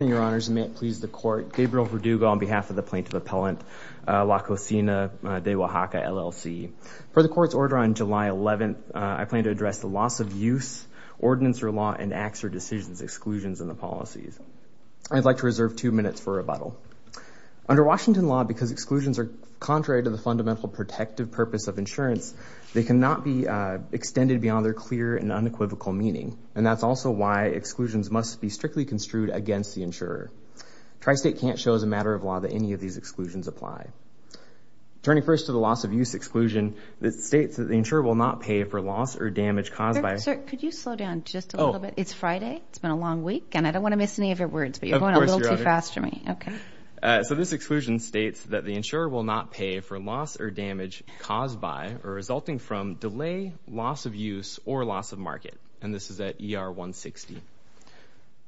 Your honors, may it please the court. Gabriel Verdugo on behalf of the plaintiff appellant, La Cocina de Oaxaca, LLC. Per the court's order on July 11th, I plan to address the loss of use, ordinance or law, and acts or decisions exclusions in the policies. I'd like to reserve two minutes for rebuttal. Under Washington law, because exclusions are contrary to the fundamental protective purpose of insurance, they cannot be extended beyond their clear and unequivocal meaning. And that's also why exclusions must be strictly construed against the insurer. Tri-State can't show as a matter of law that any of these exclusions apply. Turning first to the loss of use exclusion that states that the insurer will not pay for loss or damage caused by... Sir, could you slow down just a little bit? It's Friday. It's been a long week and I don't want to miss any of your words, but you're going a little too fast for me. Okay. So this exclusion states that the insurer will not pay for loss or damage caused by or resulting from delay, loss of use, or loss of market. And this is at ER 160.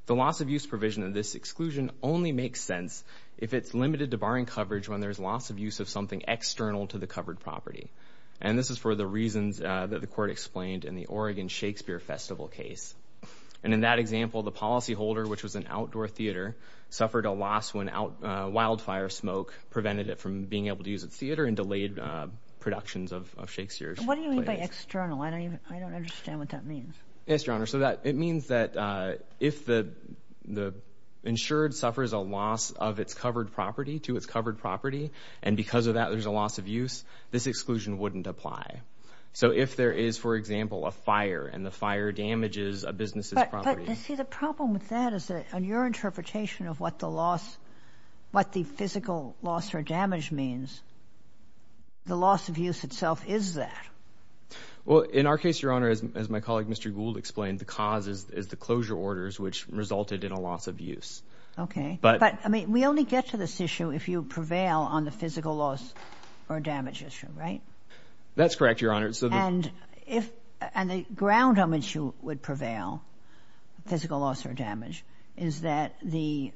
The loss of use provision of this exclusion only makes sense if it's limited to barring coverage when there's loss of use of something external to the covered property. And this is for the reasons that the court explained in the Oregon Shakespeare Festival case. And in that example, the policyholder, which was an outdoor theater, suffered a loss when wildfire smoke prevented it from being able to use its and delayed productions of Shakespeare's plays. What do you mean by external? I don't even, I don't understand what that means. Yes, Your Honor. So that it means that if the insured suffers a loss of its covered property to its covered property, and because of that, there's a loss of use, this exclusion wouldn't apply. So if there is, for example, a fire and the fire damages a business's property... But you see, the problem with that is that on your interpretation of what the loss, what the physical loss or damage means, the loss of use itself is that. Well, in our case, Your Honor, as my colleague Mr. Gould explained, the cause is the closure orders, which resulted in a loss of use. Okay. But, I mean, we only get to this issue if you prevail on the physical loss or damage issue, right? That's correct, Your Honor. And if, and the ground on which you would prevail, physical loss or damage, is that the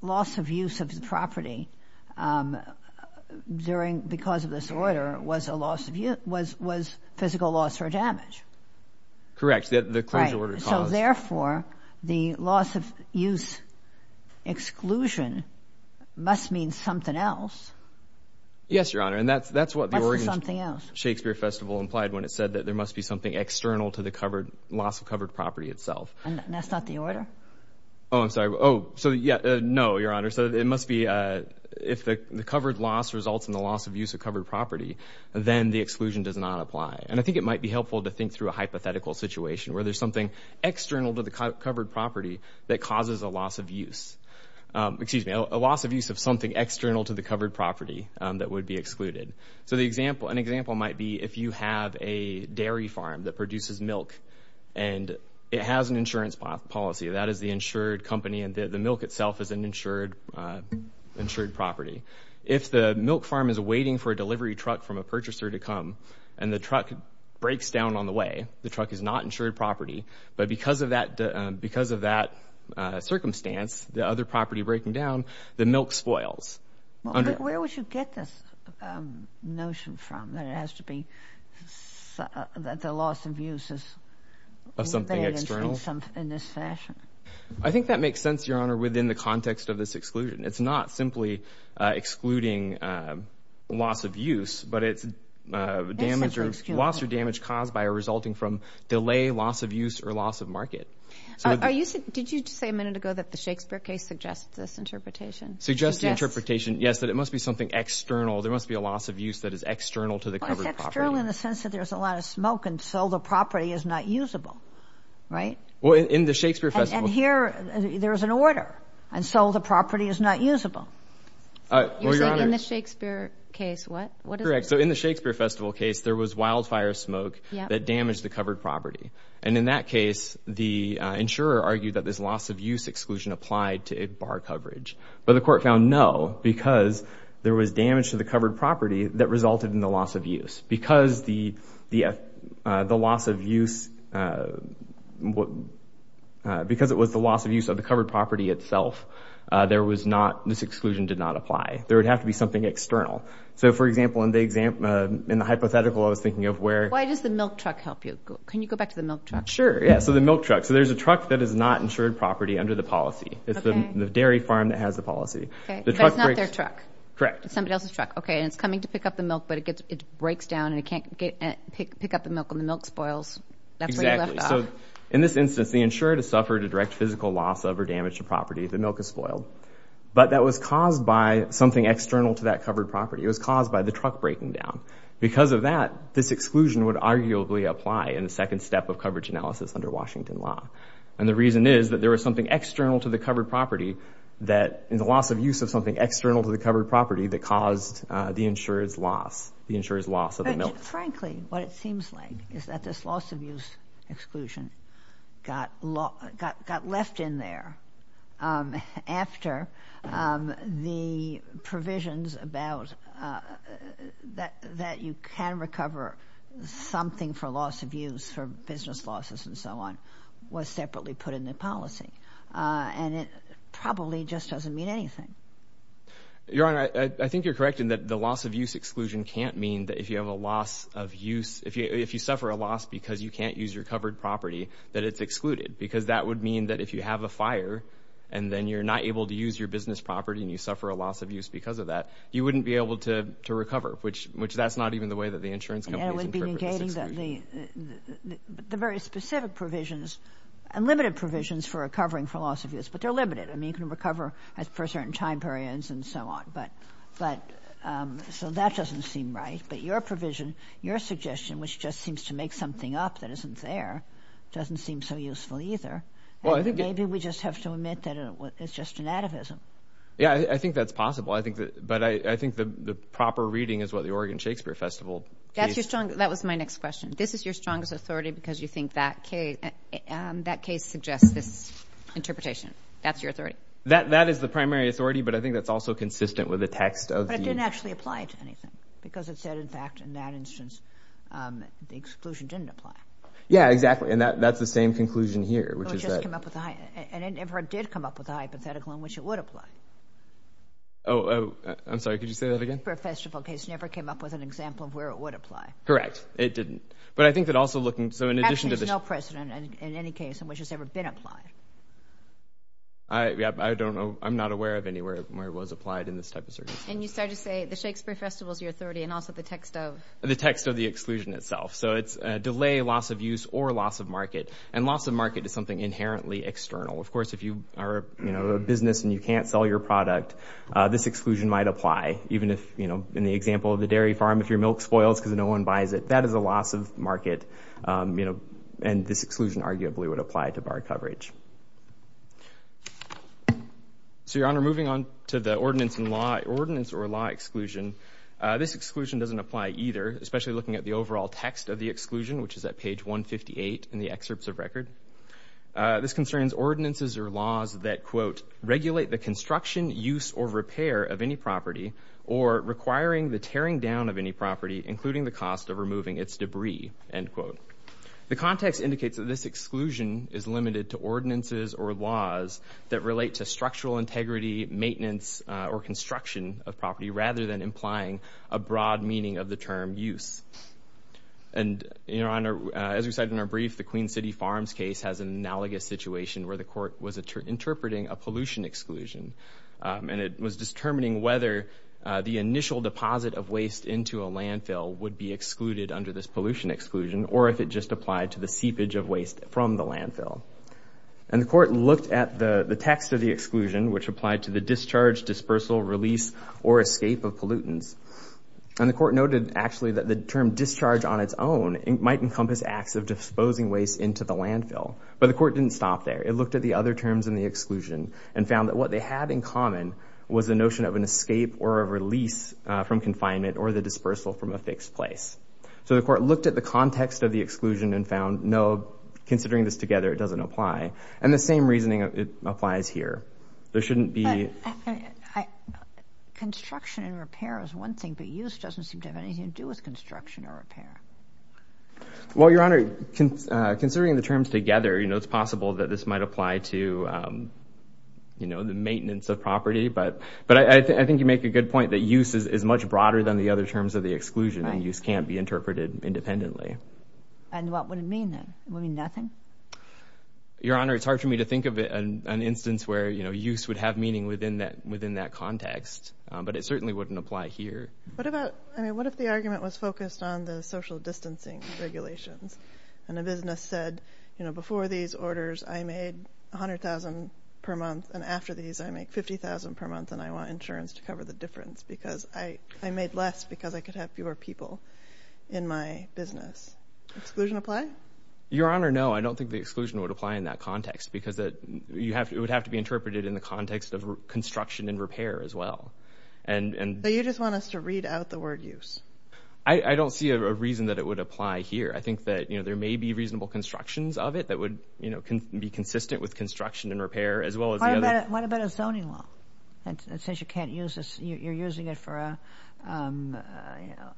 loss of use of the property during, because of this order, was a loss of use, was physical loss or damage. Correct. The closure order caused. Right. So therefore, the loss of use exclusion must mean something else. Yes, Your Honor. And that's what the Oregon Shakespeare Festival implied when it said that there must be something external to the covered, loss of covered property itself. And that's not the order? Oh, I'm sorry. Oh, so yeah, no, Your Honor. So it must be, if the covered loss results in the loss of use of covered property, then the exclusion does not apply. And I think it might be helpful to think through a hypothetical situation where there's something external to the covered property that causes a loss of use. Excuse me, a loss of use of something external to the covered property that would be excluded. So the example, an example might be if you have a dairy farm that produces milk and it has an insurance policy. That is the insured company and the milk itself is an insured, insured property. If the milk farm is waiting for a delivery truck from a purchaser to come and the truck breaks down on the way, the truck is not insured property. But because of that, because of that circumstance, the other property breaking down, the milk spoils. Where would you get this notion from that it has to be that the loss of use is of something external in this fashion? I think that makes sense, Your Honor, within the context of this exclusion. It's not simply excluding loss of use, but it's loss or damage caused by or resulting from delay, loss of use or loss of market. Did you just say a minute ago that the Shakespeare case suggests this interpretation? Suggests the interpretation, yes, that it must be something external. There must be a loss of use that is external to the covered property. It's external in the sense that there's a lot of smoke and so the property is not usable, right? Well, in the Shakespeare festival. And here there is an order and so the property is not usable. You're saying in the Shakespeare case what? Correct. So in the Shakespeare festival case, there was wildfire smoke that damaged the covered property. And in that case, the insurer argued that this loss of use exclusion applied to bar coverage. But the court found no, because there was damage to the covered property that resulted in the loss of use. Because it was the loss of use of the covered property itself, this exclusion did not apply. There would have to be something external. So, for example, in the hypothetical, I was thinking of where... Why does the milk truck help you? Can you go back to the milk truck? Sure. Yeah, so the milk truck. So there's a truck that is not insured property under the policy. It's the dairy farm that has the policy. That's not their truck. Correct. Somebody else's truck. Okay, and it's coming to pick up the milk, but it breaks down and it can't pick up the milk and the milk spoils. Exactly. So in this instance, the insurer has suffered a direct physical loss of or damage to property. The milk is spoiled. But that was caused by something external to that covered property. It was caused by the truck breaking down. Because of that, this exclusion would arguably apply in the second step of coverage analysis under Washington law. And the reason is that there was something external to the covered property that in the loss of use of something external to the covered property that caused the insurer's loss, the insurer's loss of the milk. Frankly, what it seems like is that this loss of use exclusion got left in there after the provisions about that you can recover something for loss of use for business losses and so on was separately put in the policy. And it probably just doesn't mean anything. Your Honor, I think you're correct in that the loss of use exclusion can't mean that if you have a loss of use, if you suffer a loss because you can't use your covered property, that it's excluded. Because that would mean that if you have a fire and then you're not able to use your business property and you suffer a loss of use because of that, you wouldn't be able to recover. Which that's not even the way that the insurance companies interpret this exclusion. The very specific provisions and limited provisions for recovering for loss of use, but they're limited. I mean, you can recover for certain time periods and so on. But so that doesn't seem right. But your provision, your suggestion, which just seems to make something up that isn't there, doesn't seem so useful either. Maybe we just have to admit that it's just anatomism. Yeah, I think that's possible. I think that, but I think the Oregon Shakespeare Festival. That's your strong, that was my next question. This is your strongest authority because you think that case, that case suggests this interpretation. That's your authority. That, that is the primary authority, but I think that's also consistent with the text of the. But it didn't actually apply to anything because it said, in fact, in that instance, the exclusion didn't apply. Yeah, exactly. And that, that's the same conclusion here, which is that. And it never did come up with a hypothetical in which it would apply. Oh, I'm sorry. Could you say that again? Shakespeare Festival case never came up with an example of where it would apply. Correct. It didn't. But I think that also looking, so in addition to this. Actually, there's no precedent in any case in which it's ever been applied. I don't know. I'm not aware of anywhere where it was applied in this type of circumstance. And you started to say the Shakespeare Festival is your authority and also the text of. The text of the exclusion itself. So it's a delay, loss of use or loss of market. And loss of market is something inherently external. Of course, if you are a business and you can't sell your product, this exclusion might apply. Even if in the example of the dairy farm, if your milk spoils because no one buys it, that is a loss of market. And this exclusion arguably would apply to bar coverage. So, Your Honor, moving on to the ordinance or law exclusion, this exclusion doesn't apply either, especially looking at the overall text of the exclusion, which is at page 158 in the excerpts of record. This concerns ordinances or laws that, quote, regulate the construction, use, or repair of any property or requiring the tearing down of any property, including the cost of removing its debris, end quote. The context indicates that this exclusion is limited to ordinances or laws that relate to structural integrity, maintenance, or construction of property rather than implying a broad meaning of the term use. And, Your Honor, as we said in our brief, the Queen City Farms case has an analogous situation where the court was interpreting a pollution exclusion. And it was determining whether the initial deposit of waste into a landfill would be excluded under this pollution exclusion or if it just applied to the seepage of waste from the landfill. And the court looked at the text of the exclusion, which applied to the discharge, dispersal, release, or escape of pollutants. And the court noted actually that the term discharge on its own might encompass acts of disposing waste into the landfill. But the court didn't stop there. It looked at the other terms in the exclusion and found that what they had in common was the notion of an escape or a release from confinement or the dispersal from a fixed place. So the court looked at the context of the exclusion and found, no, considering this together, it doesn't apply. And the same reasoning applies here. There shouldn't seem to have anything to do with construction or repair. Well, Your Honor, considering the terms together, you know, it's possible that this might apply to, you know, the maintenance of property. But I think you make a good point that use is much broader than the other terms of the exclusion. And use can't be interpreted independently. And what would it mean then? Would it mean nothing? Your Honor, it's hard for me to think of an instance where, you know, use would have meaning within that context. But it certainly wouldn't apply here. What about, I mean, what if the argument was focused on the social distancing regulations and a business said, you know, before these orders, I made 100,000 per month. And after these, I make 50,000 per month. And I want insurance to cover the difference because I made less because I could have fewer people in my business. Exclusion apply? Your Honor, no, I don't think the exclusion would apply in that context because it would have to be interpreted in the context of to read out the word use. I don't see a reason that it would apply here. I think that, you know, there may be reasonable constructions of it that would, you know, can be consistent with construction and repair as well as the other. What about a zoning law? And since you can't use this, you're using it for a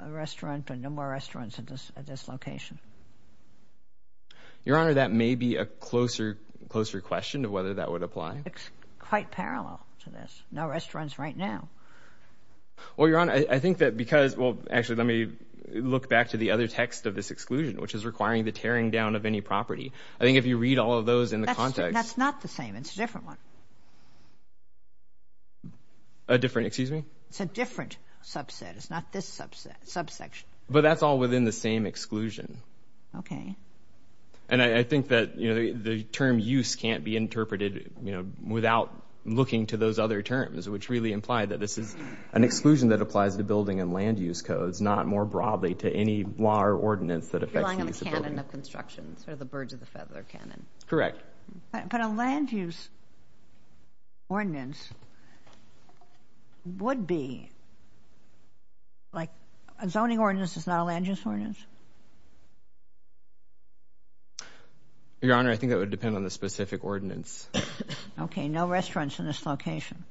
restaurant and no more restaurants at this location. Your Honor, that may be a closer question to whether that would apply. It's quite parallel to this. No restaurants right now. Well, Your Honor, I think that because, well, actually, let me look back to the other text of this exclusion, which is requiring the tearing down of any property. I think if you read all of those in the context. That's not the same. It's a different one. A different, excuse me? It's a different subset. It's not this subsection. But that's all within the same exclusion. Okay. And I think that, you know, the term use can't be interpreted, you know, without looking to those other terms, which really imply that this is an exclusion that applies to building and land use codes, not more broadly to any law or ordinance that affects the use of buildings. You're relying on the canon of construction, sort of the birds of the feather canon. Correct. But a land use ordinance would be like a zoning ordinance is not a land use ordinance? Your Honor, I think that would depend on the specific ordinance. Okay. No restaurants in this location.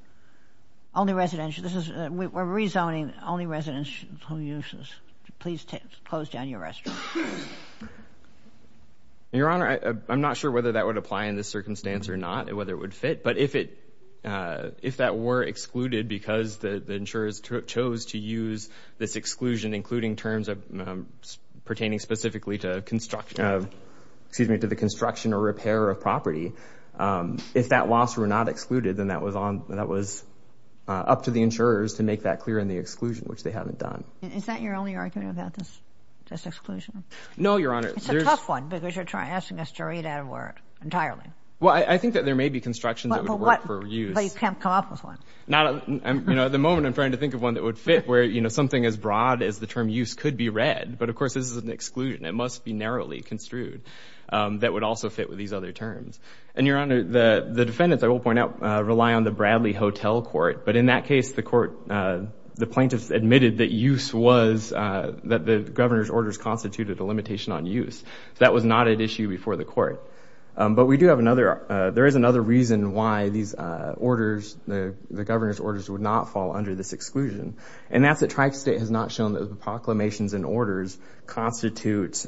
Only residential. This is we're rezoning only residential uses. Please close down your restaurant. Your Honor, I'm not sure whether that would apply in this circumstance or not, whether it would fit. But if it if that were excluded because the insurers chose to use this exclusion, including terms pertaining specifically to construction, excuse me, to the construction or repair of property, if that loss were not excluded, then that was up to the insurers to make that clear in the exclusion, which they haven't done. Is that your only argument about this exclusion? No, Your Honor. It's a tough one because you're asking us to read out a word entirely. Well, I think that there may be constructions that would fit where something as broad as the term use could be read. But of course, this is an exclusion. It must be narrowly construed that would also fit with these other terms. And Your Honor, the defendants, I will point out, rely on the Bradley Hotel Court. But in that case, the plaintiffs admitted that use was that the governor's orders constituted a limitation on use. That was not an issue before the court. But we do have another. There is another reason why these orders, the governor's orders, would not fall under this exclusion. And that's that Tri-State has not shown that the proclamations and orders constitute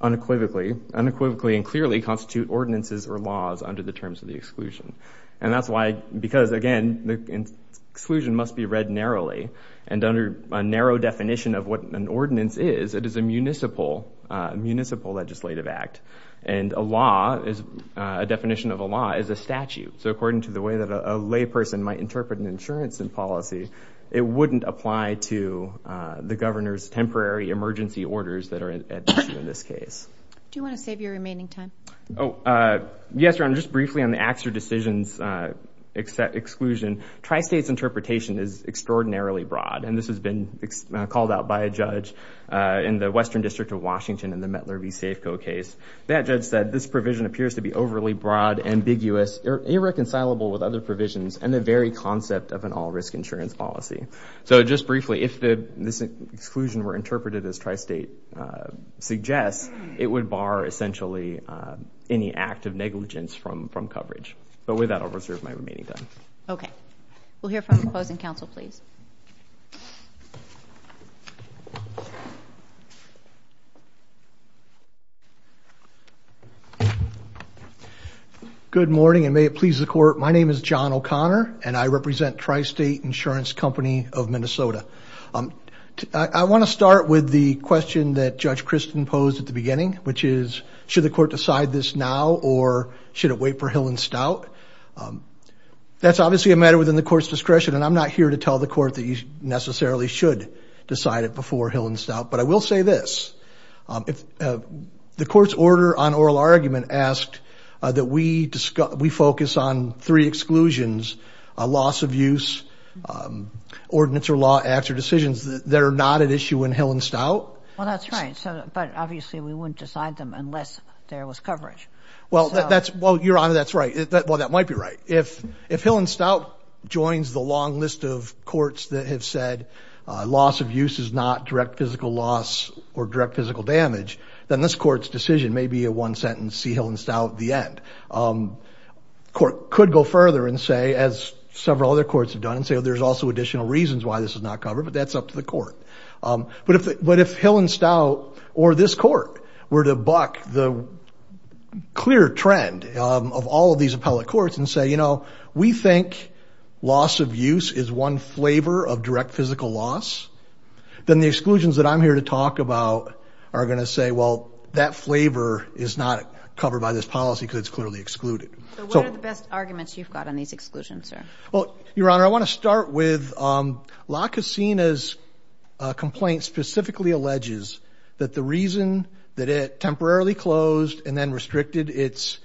unequivocally, unequivocally and clearly constitute ordinances or laws under the terms of the exclusion. And that's why, because again, the exclusion must be read narrowly. And under a narrow definition of what an ordinance is, it is a municipal, municipal legislative act. And a law is, a definition of a law is a statute. So according to the way that a lay person might interpret an insurance policy, it wouldn't apply to the governor's temporary emergency orders that are at issue in this case. Do you want to save your remaining time? Yes, Your Honor. Just briefly on the acts or decisions exclusion, Tri-State's interpretation is extraordinarily broad. And this has been called out by a judge in the Western District of Washington in the Mettler v. Safeco case. That judge said this provision appears to be overly broad, ambiguous, irreconcilable with other provisions, and the very concept of an all-risk insurance policy. So just briefly, if this exclusion were interpreted as Tri-State suggests, it would bar essentially any act of negligence from coverage. But with that, I'll reserve my remaining time. Okay. We'll hear from the opposing counsel, please. Good morning, and may it please the court. My name is John O'Connor, and I represent Tri-State Insurance Company of Minnesota. I want to start with the question that Judge Kristen posed at the beginning, which is, should the court decide this now, or should it wait for Hill and Stout? That's obviously a matter within the court's discretion, and I'm not here to tell the court that you necessarily should decide it before Hill and Stout. But I will say this, if the court's order on oral argument asked that we focus on three exclusions, loss of use, ordinance or law, acts or decisions that are not at issue in Hill and Stout. Well, that's right. But obviously, we wouldn't decide them unless there was coverage. Well, Your Honor, that's right. Well, that might be right. If Hill and Stout joins the long list of courts that have said loss of use is not direct physical loss or direct physical damage, then this court's decision may be a one-sentence, see Hill and Stout at the end. Court could go further and say, as several other courts have done, and say, there's also additional reasons why this is not covered, but that's up to the court. But if Hill and Stout or this court were to buck the clear trend of all of these appellate courts and say, we think loss of use is one flavor of direct physical loss, then the exclusions that I'm here to talk about are going to say, well, that flavor is not covered by this policy because it's clearly excluded. So what are the best arguments you've got on these exclusions, sir? Well, Your Honor, I want to start with La Casina's complaint specifically alleges that the reason that it temporarily closed and then restricted its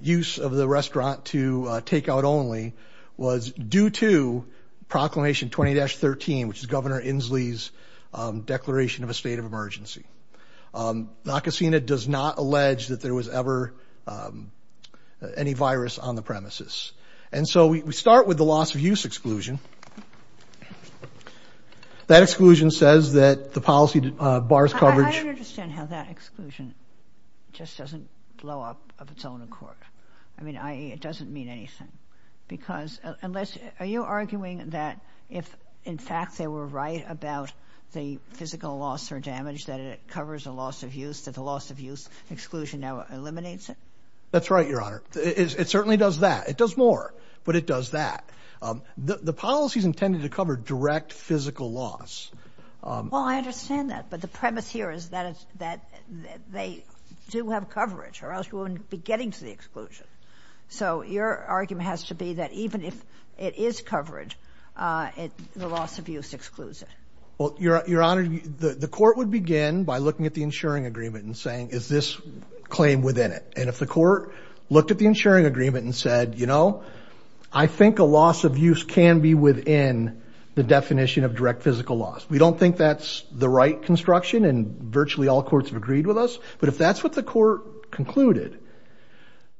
use of the restaurant to take out only was due to Proclamation 20-13, which is Governor Inslee's declaration of a state of emergency. La Casina does not allege that there was ever any virus on the premises. And so we start with the loss of use exclusion. That exclusion says that the policy bars coverage. I don't understand how that exclusion just doesn't blow up of its own accord. I mean, it doesn't mean anything. Because unless, are you arguing that if, in fact, they were right about the physical loss or damage that it covers a loss of use, that the loss of use exclusion now eliminates it? That's right, Your Honor. It certainly does that. It does more, but it does that. The policy is intended to cover direct physical loss. Well, I understand that. But the premise here is that they do have coverage or else you wouldn't be getting to the exclusion. So your argument has to be that even if it is coverage, the loss of use excludes it. Well, Your Honor, the court would begin by looking at the insuring agreement and saying, is this claim within it? And if the court looked at the insuring agreement and said, you know, I think a loss of use can be within the definition of direct physical loss. We don't think that's the right construction, and virtually all courts have agreed with us. But if that's what the court concluded,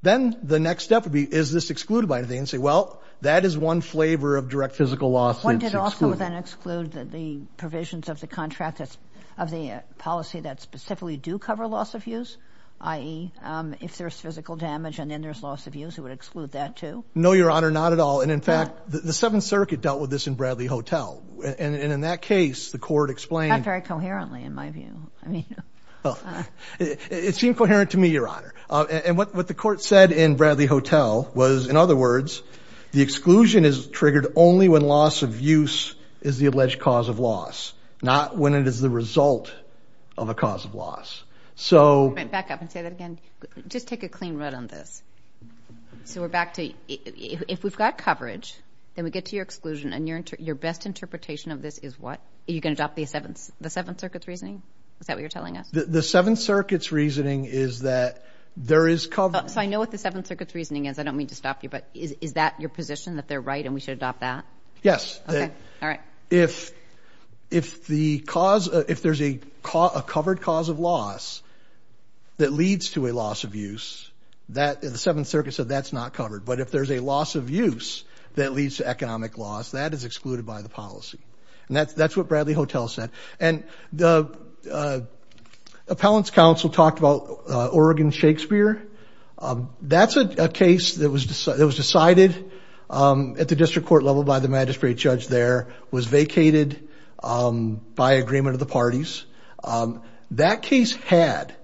then the next step would be, is this excluded by anything? And say, well, that is one flavor of direct physical loss. What did also then exclude the provisions of the contract of the policy that specifically do cover loss of use, i.e., if there's physical damage and then there's loss of use, it would exclude that too? No, Your Honor, not at all. And in fact, the Seventh Circuit dealt with this in Bradley Hotel. And in that case, the court explained... Not very coherently, in my view. It seemed coherent to me, Your Honor. And what the court said in Bradley Hotel was, in other words, the exclusion is triggered only when loss of use is the alleged cause of loss, not when it is the result of a cause of loss. I'm going to back up and say that again. Just take a clean run on this. So we're back to, if we've got coverage, then we get to your exclusion and your best interpretation of this is what? Are you going to adopt the Seventh Circuit's reasoning? Is that what you're telling us? The Seventh Circuit's reasoning is that there is cover... So I know what the Seventh Circuit's reasoning is. I don't mean to stop you, but is that your position, that they're right and we should adopt that? Yes. All right. If there's a covered cause of loss that leads to a loss of use, the Seventh Circuit said that's not covered. But if there's a loss of use that leads to economic loss, that is excluded by the policy. And that's what Bradley Hotel said. And the appellant's counsel talked about Oregon Shakespeare. That's a case that was decided at the district court level by the magistrate judge there, was vacated by agreement of the parties. That case had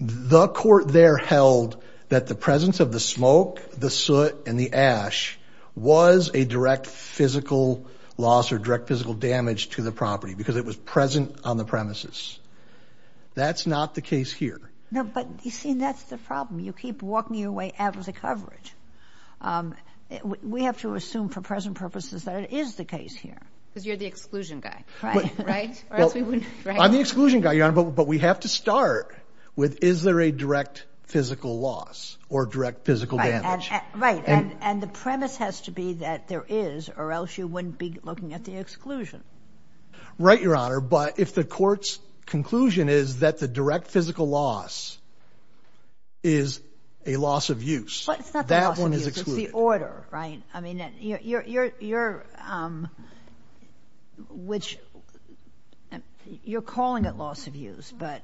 the court there held that the presence of the smoke, the soot, and the ash was a direct physical loss or direct physical damage to the property because it was present on the premises. That's not the case here. No, but you see, that's the problem. You keep walking your way out of the coverage. We have to assume for present purposes that it is the case here. Because you're the exclusion guy, right? I'm the exclusion guy, Your Honor, but we have to start with, is there a direct physical loss or direct physical damage? Right. And the premise has to be that there is, or else you wouldn't be looking at the exclusion. Right, Your Honor. But if the court's conclusion is that the direct physical loss is a loss of use, that one is excluded. I mean, you're calling it loss of use, but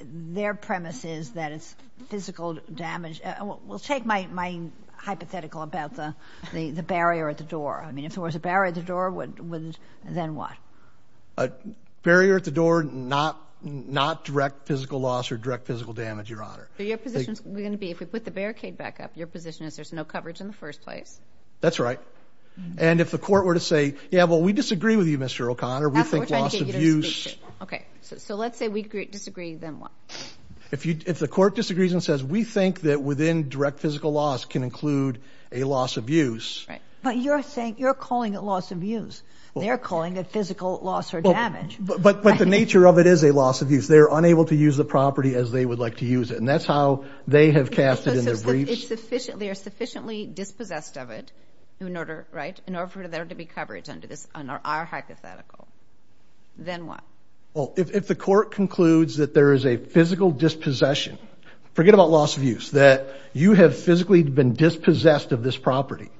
their premise is that it's physical damage. We'll take my hypothetical about the barrier at the door. I mean, if there was a barrier at the door, then what? A barrier at the door, not direct physical loss or direct physical damage, Your Honor. Your position is going to be, if we put the barricade back up, your position is there's no coverage in the first place. That's right. And if the court were to say, yeah, well, we disagree with you, Mr. O'Connor. Okay, so let's say we disagree, then what? If the court disagrees and says, we think that within direct physical loss can include a loss of use. But you're saying, you're calling it loss of use. They're calling it physical loss or damage. But the nature of it is a loss of use. They're unable to use the property as they would like to use it. And that's how they have cast it in their briefs. So they are sufficiently dispossessed of it in order, right, in order for there to be coverage under this, under our hypothetical. Then what? Well, if the court concludes that there is a physical dispossession, forget about loss of use, that you have physically been dispossessed of this property,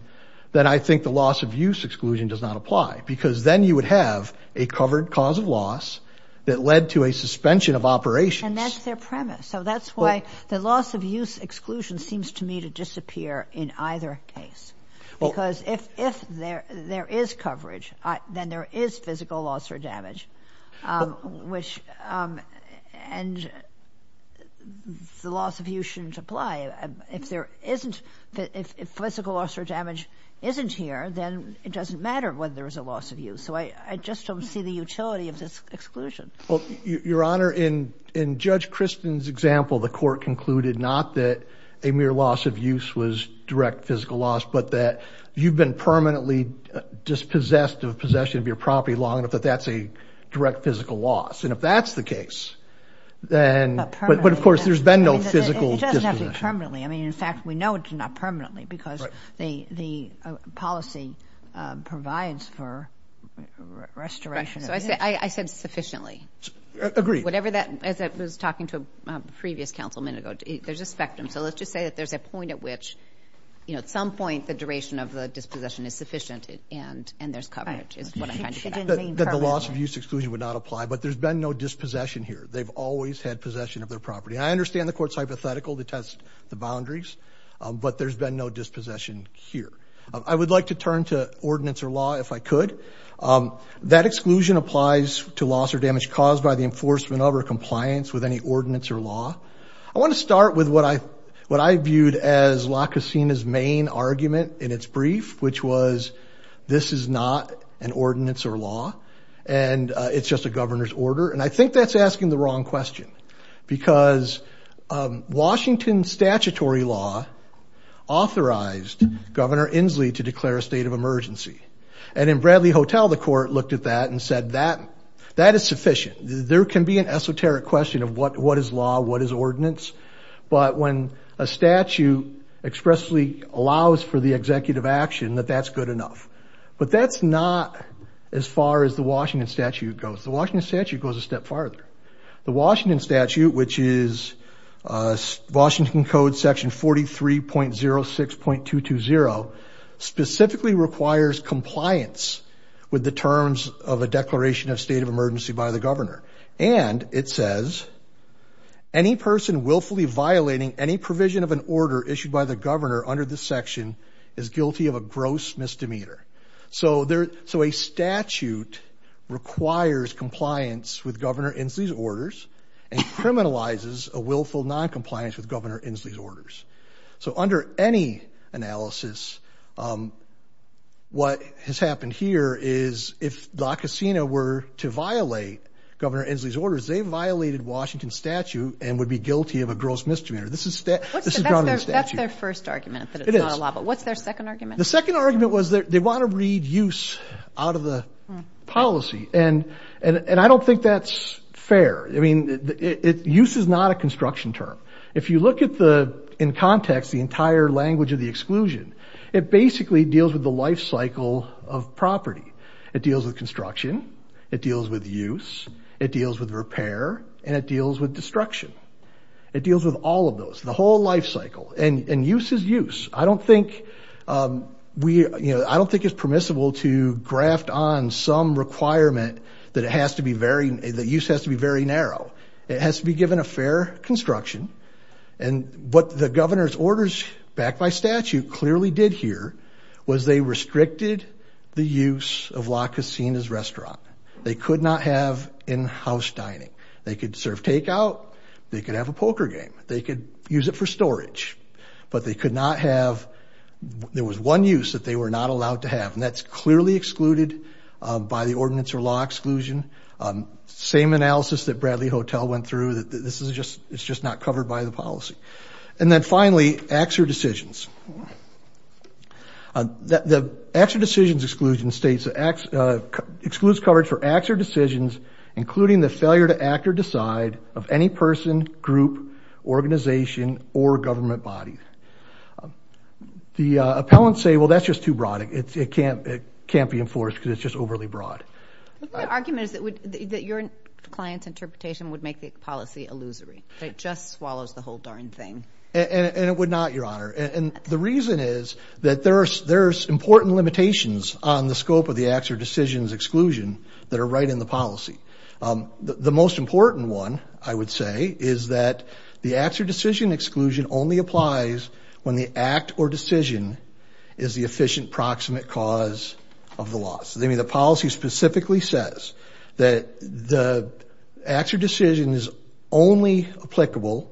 then I think the loss of use exclusion does not apply. Because then you would have a covered cause of loss that led to a suspension of operations. And that's their premise. So that's why the loss of use exclusion seems to me to disappear in either case. Because if there is coverage, then there is physical loss or damage, which and the loss of use shouldn't apply. If there isn't, if physical loss or damage isn't here, then it doesn't matter whether there is a loss of use. So I just don't see the utility of this exclusion. Well, Your Honor, in Judge Kristen's example, the court concluded not that a mere loss of use was direct physical loss, but that you've been permanently dispossessed of possession of your property long enough that that's a direct physical loss. And if that's the case, then, but of course, there's been no physical dispossession. It doesn't have to be permanently. I mean, in fact, we know it's not permanently because the policy provides for restoration. I said sufficiently. Agreed. Whatever that, as I was talking to a previous counsel a minute ago, there's a spectrum. So let's just say that there's a point at which, you know, at some point the duration of the dispossession is sufficient and there's coverage is what I'm trying to get at. That the loss of use exclusion would not apply, but there's been no dispossession here. They've always had possession of their property. I understand the court's hypothetical to test the boundaries, but there's been no dispossession here. I would like to turn to ordinance or law, if I could. That exclusion applies to loss or damage caused by the enforcement of or compliance with any ordinance or law. I want to start with what I viewed as La Casina's main argument in its brief, which was, this is not an ordinance or law, and it's just a governor's order. And I think that's asking the wrong question because Washington statutory law authorized Governor Inslee to declare a state of emergency. And in Bradley Hotel, the court looked at that and said, that is sufficient. There can be an esoteric question of what is law, what is ordinance, but when a statute expressly allows for the executive action, that that's good enough. But that's not as far as the Washington statute goes. The Washington statute goes a step farther. The Washington statute, which is Washington code section 43.06.220, specifically requires compliance with the terms of a declaration of state of emergency by the governor. And it says, any person willfully violating any provision of an order issued by the governor under this section is guilty of a gross misdemeanor. So a statute requires compliance with Governor Inslee's orders and criminalizes a willful noncompliance with Governor Inslee's orders. So under any analysis, what has happened here is if La Casina were to violate Governor Inslee's orders, they violated Washington statute and would be guilty of a gross misdemeanor. That's their first argument that it's not a law, but what's their second argument? The second argument was that they want to read use out of the policy. And I don't think that's fair. I mean, use is not a construction term. If you look in context, the entire language of the exclusion, it basically deals with the life cycle of property. It deals with construction. It deals with use. It deals with repair and it deals with destruction. It deals with all of those, the whole life cycle. And use is use. I don't think we, you know, I don't think it's permissible to graft on some requirement that it has to be very, the use has to be very narrow. It has to be given a fair construction. And what the governor's orders backed by statute clearly did here was they restricted the use of La Casina's restaurant. They could not have in-house dining. They could serve takeout. They could have a poker game. They could use it for storage, but they could not have, there was one use that they were not allowed to have, and that's clearly excluded by the ordinance or law exclusion. Same analysis that Bradley Hotel went through, that this is just, it's just not covered by the policy. And then finally, acts or decisions. The acts or decisions exclusion states that excludes coverage for acts or decisions, including the failure to act or decide of any person, group, organization, or government body. The appellants say, well, that's just too broad. It can't be enforced because it's just overly broad. The argument is that your client's interpretation would make the policy illusory. It just swallows the whole darn thing. And it would not, Your Honor. And the reason is that there's important limitations on the scope of the acts or decisions exclusion that are right in the policy. The most important one, I would say, is that the acts or decision exclusion only applies when the act or decision is the efficient proximate cause of the loss. I mean, the policy specifically says that the acts or decision is only applicable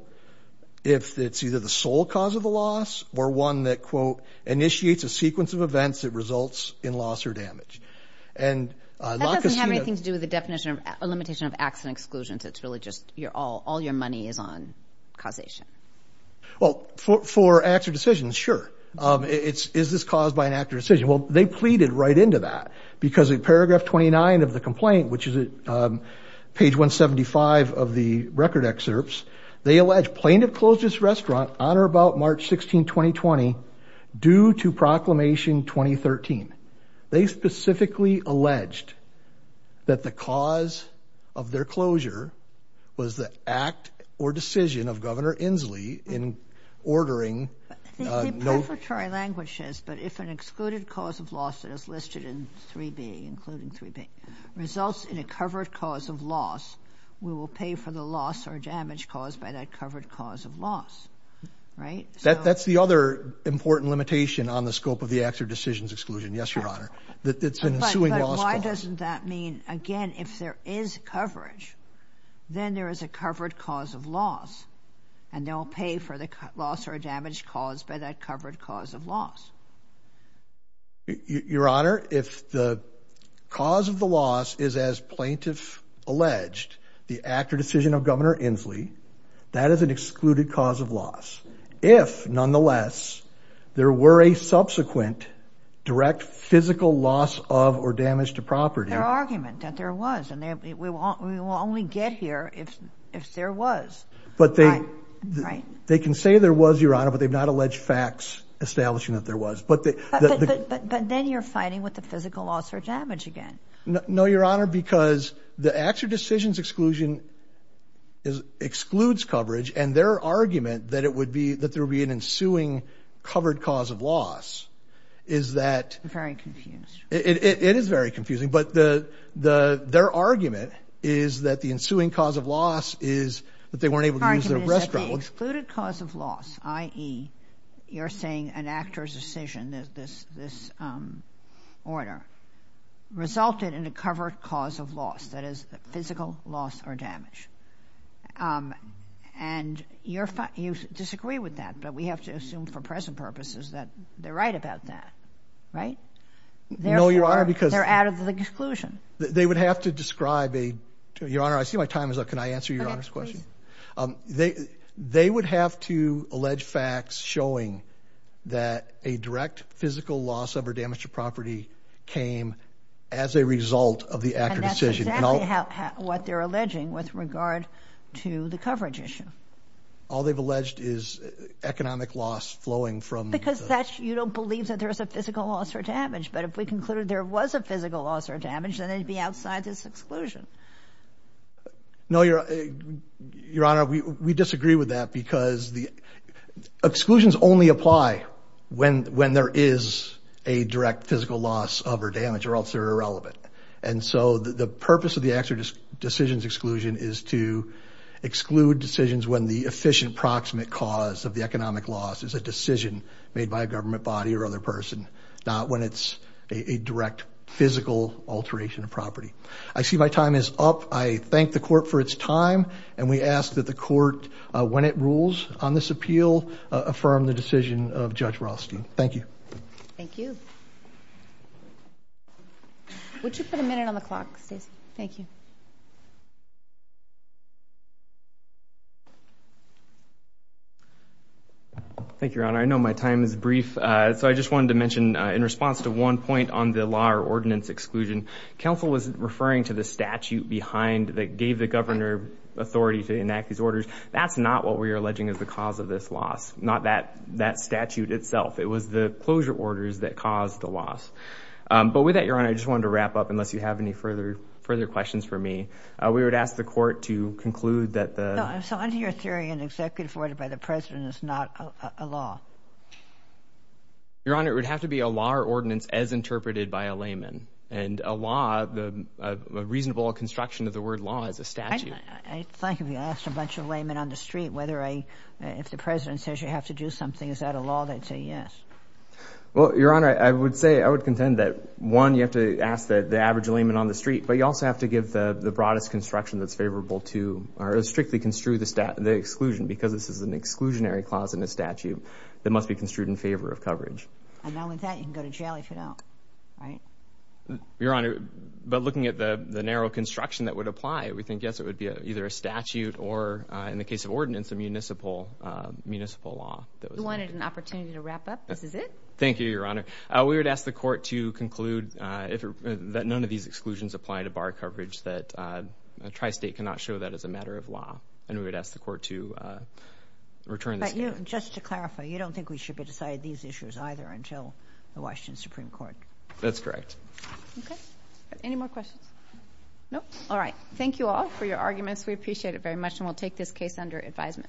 if it's either the sole cause of the loss or one that quote, initiates a sequence of events that doesn't have anything to do with the definition of a limitation of acts and exclusions. It's really just all your money is on causation. Well, for acts or decisions, sure. Is this caused by an act or decision? Well, they pleaded right into that because in paragraph 29 of the complaint, which is page 175 of the record excerpts, they allege plaintiff closed his that the cause of their closure was the act or decision of Governor Inslee in ordering. I think the preparatory language says, but if an excluded cause of loss that is listed in 3B, including 3B, results in a covered cause of loss, we will pay for the loss or damage caused by that covered cause of loss. Right? That's the other important limitation on the scope of the Yes, Your Honor. That's an ensuing loss. But why doesn't that mean again, if there is coverage, then there is a covered cause of loss and they'll pay for the loss or damage caused by that covered cause of loss. Your Honor, if the cause of the loss is as plaintiff alleged, the act or decision of Governor Inslee, that is an excluded cause of loss. If nonetheless, there were a subsequent direct physical loss of or damage to property. Their argument that there was, and we will only get here if there was. But they can say there was, Your Honor, but they've not alleged facts establishing that there was. But then you're fighting with the physical loss or damage again. No, Your Honor, because the act or decision's exclusion excludes coverage and their argument that it would be, that there would be an ensuing covered cause of loss is that. I'm very confused. It is very confusing, but their argument is that the ensuing cause of loss is that they weren't able to use their restrooms. The excluded cause of loss, i.e., you're saying an act or decision, this order, resulted in a covered cause of loss, that is the physical loss or damage. And you disagree with that, but we have to assume for present purposes that they're right about that, right? No, Your Honor, because they're out of the exclusion. They would have to describe a, Your Honor, I see my time is up. Can I answer Your facts showing that a direct physical loss of or damage to property came as a result of the act or decision? And that's exactly what they're alleging with regard to the coverage issue. All they've alleged is economic loss flowing from. Because that's, you don't believe that there's a physical loss or damage, but if we concluded there was a physical loss or damage, then they'd be outside this exclusion. No, Your Honor, we disagree with that because the exclusions only apply when there is a direct physical loss of or damage or else they're irrelevant. And so the purpose of the act or decisions exclusion is to exclude decisions when the efficient proximate cause of the economic loss is a decision made by a government body or other person, not when it's a direct physical alteration of property. I see my time is up. I thank the court for its time. And we ask that the court, when it rules on this appeal, affirm the decision of Judge Rothstein. Thank you. Thank you. Would you put a minute on the clock, Stacy? Thank you. Thank you, Your Honor. I know my time is brief. So I just wanted to mention in response to one counsel was referring to the statute behind that gave the governor authority to enact these orders. That's not what we are alleging is the cause of this loss, not that that statute itself. It was the closure orders that caused the loss. But with that, Your Honor, I just wanted to wrap up unless you have any further further questions for me. We would ask the court to conclude that the executive order by the president is not a law. Your Honor, it would have to be a law or ordinance as interpreted by a layman and a law, the reasonable construction of the word law as a statute. I think if you asked a bunch of laymen on the street, whether I if the president says you have to do something, is that a law? They'd say yes. Well, Your Honor, I would say I would contend that one, you have to ask that the average layman on the street, but you also have to give the broadest construction that's favorable to or strictly construe the exclusion because this is an exclusionary clause in a statute that must be construed in favor of coverage. And now with that, you can go to jail if you don't, right? Your Honor, but looking at the narrow construction that would apply, we think yes, it would be either a statute or in the case of ordinance, a municipal municipal law. You wanted an opportunity to wrap up. This is it. Thank you, Your Honor. We would ask the court to conclude that none of these exclusions apply to bar coverage, that a tri-state cannot show that as a matter of law. And we would ask the court to return. But just to clarify, you don't think we should be deciding these issues either until the Washington Supreme Court? That's correct. Okay. Any more questions? No? All right. Thank you all for your arguments. We appreciate it very much. And we'll take this case under advisement.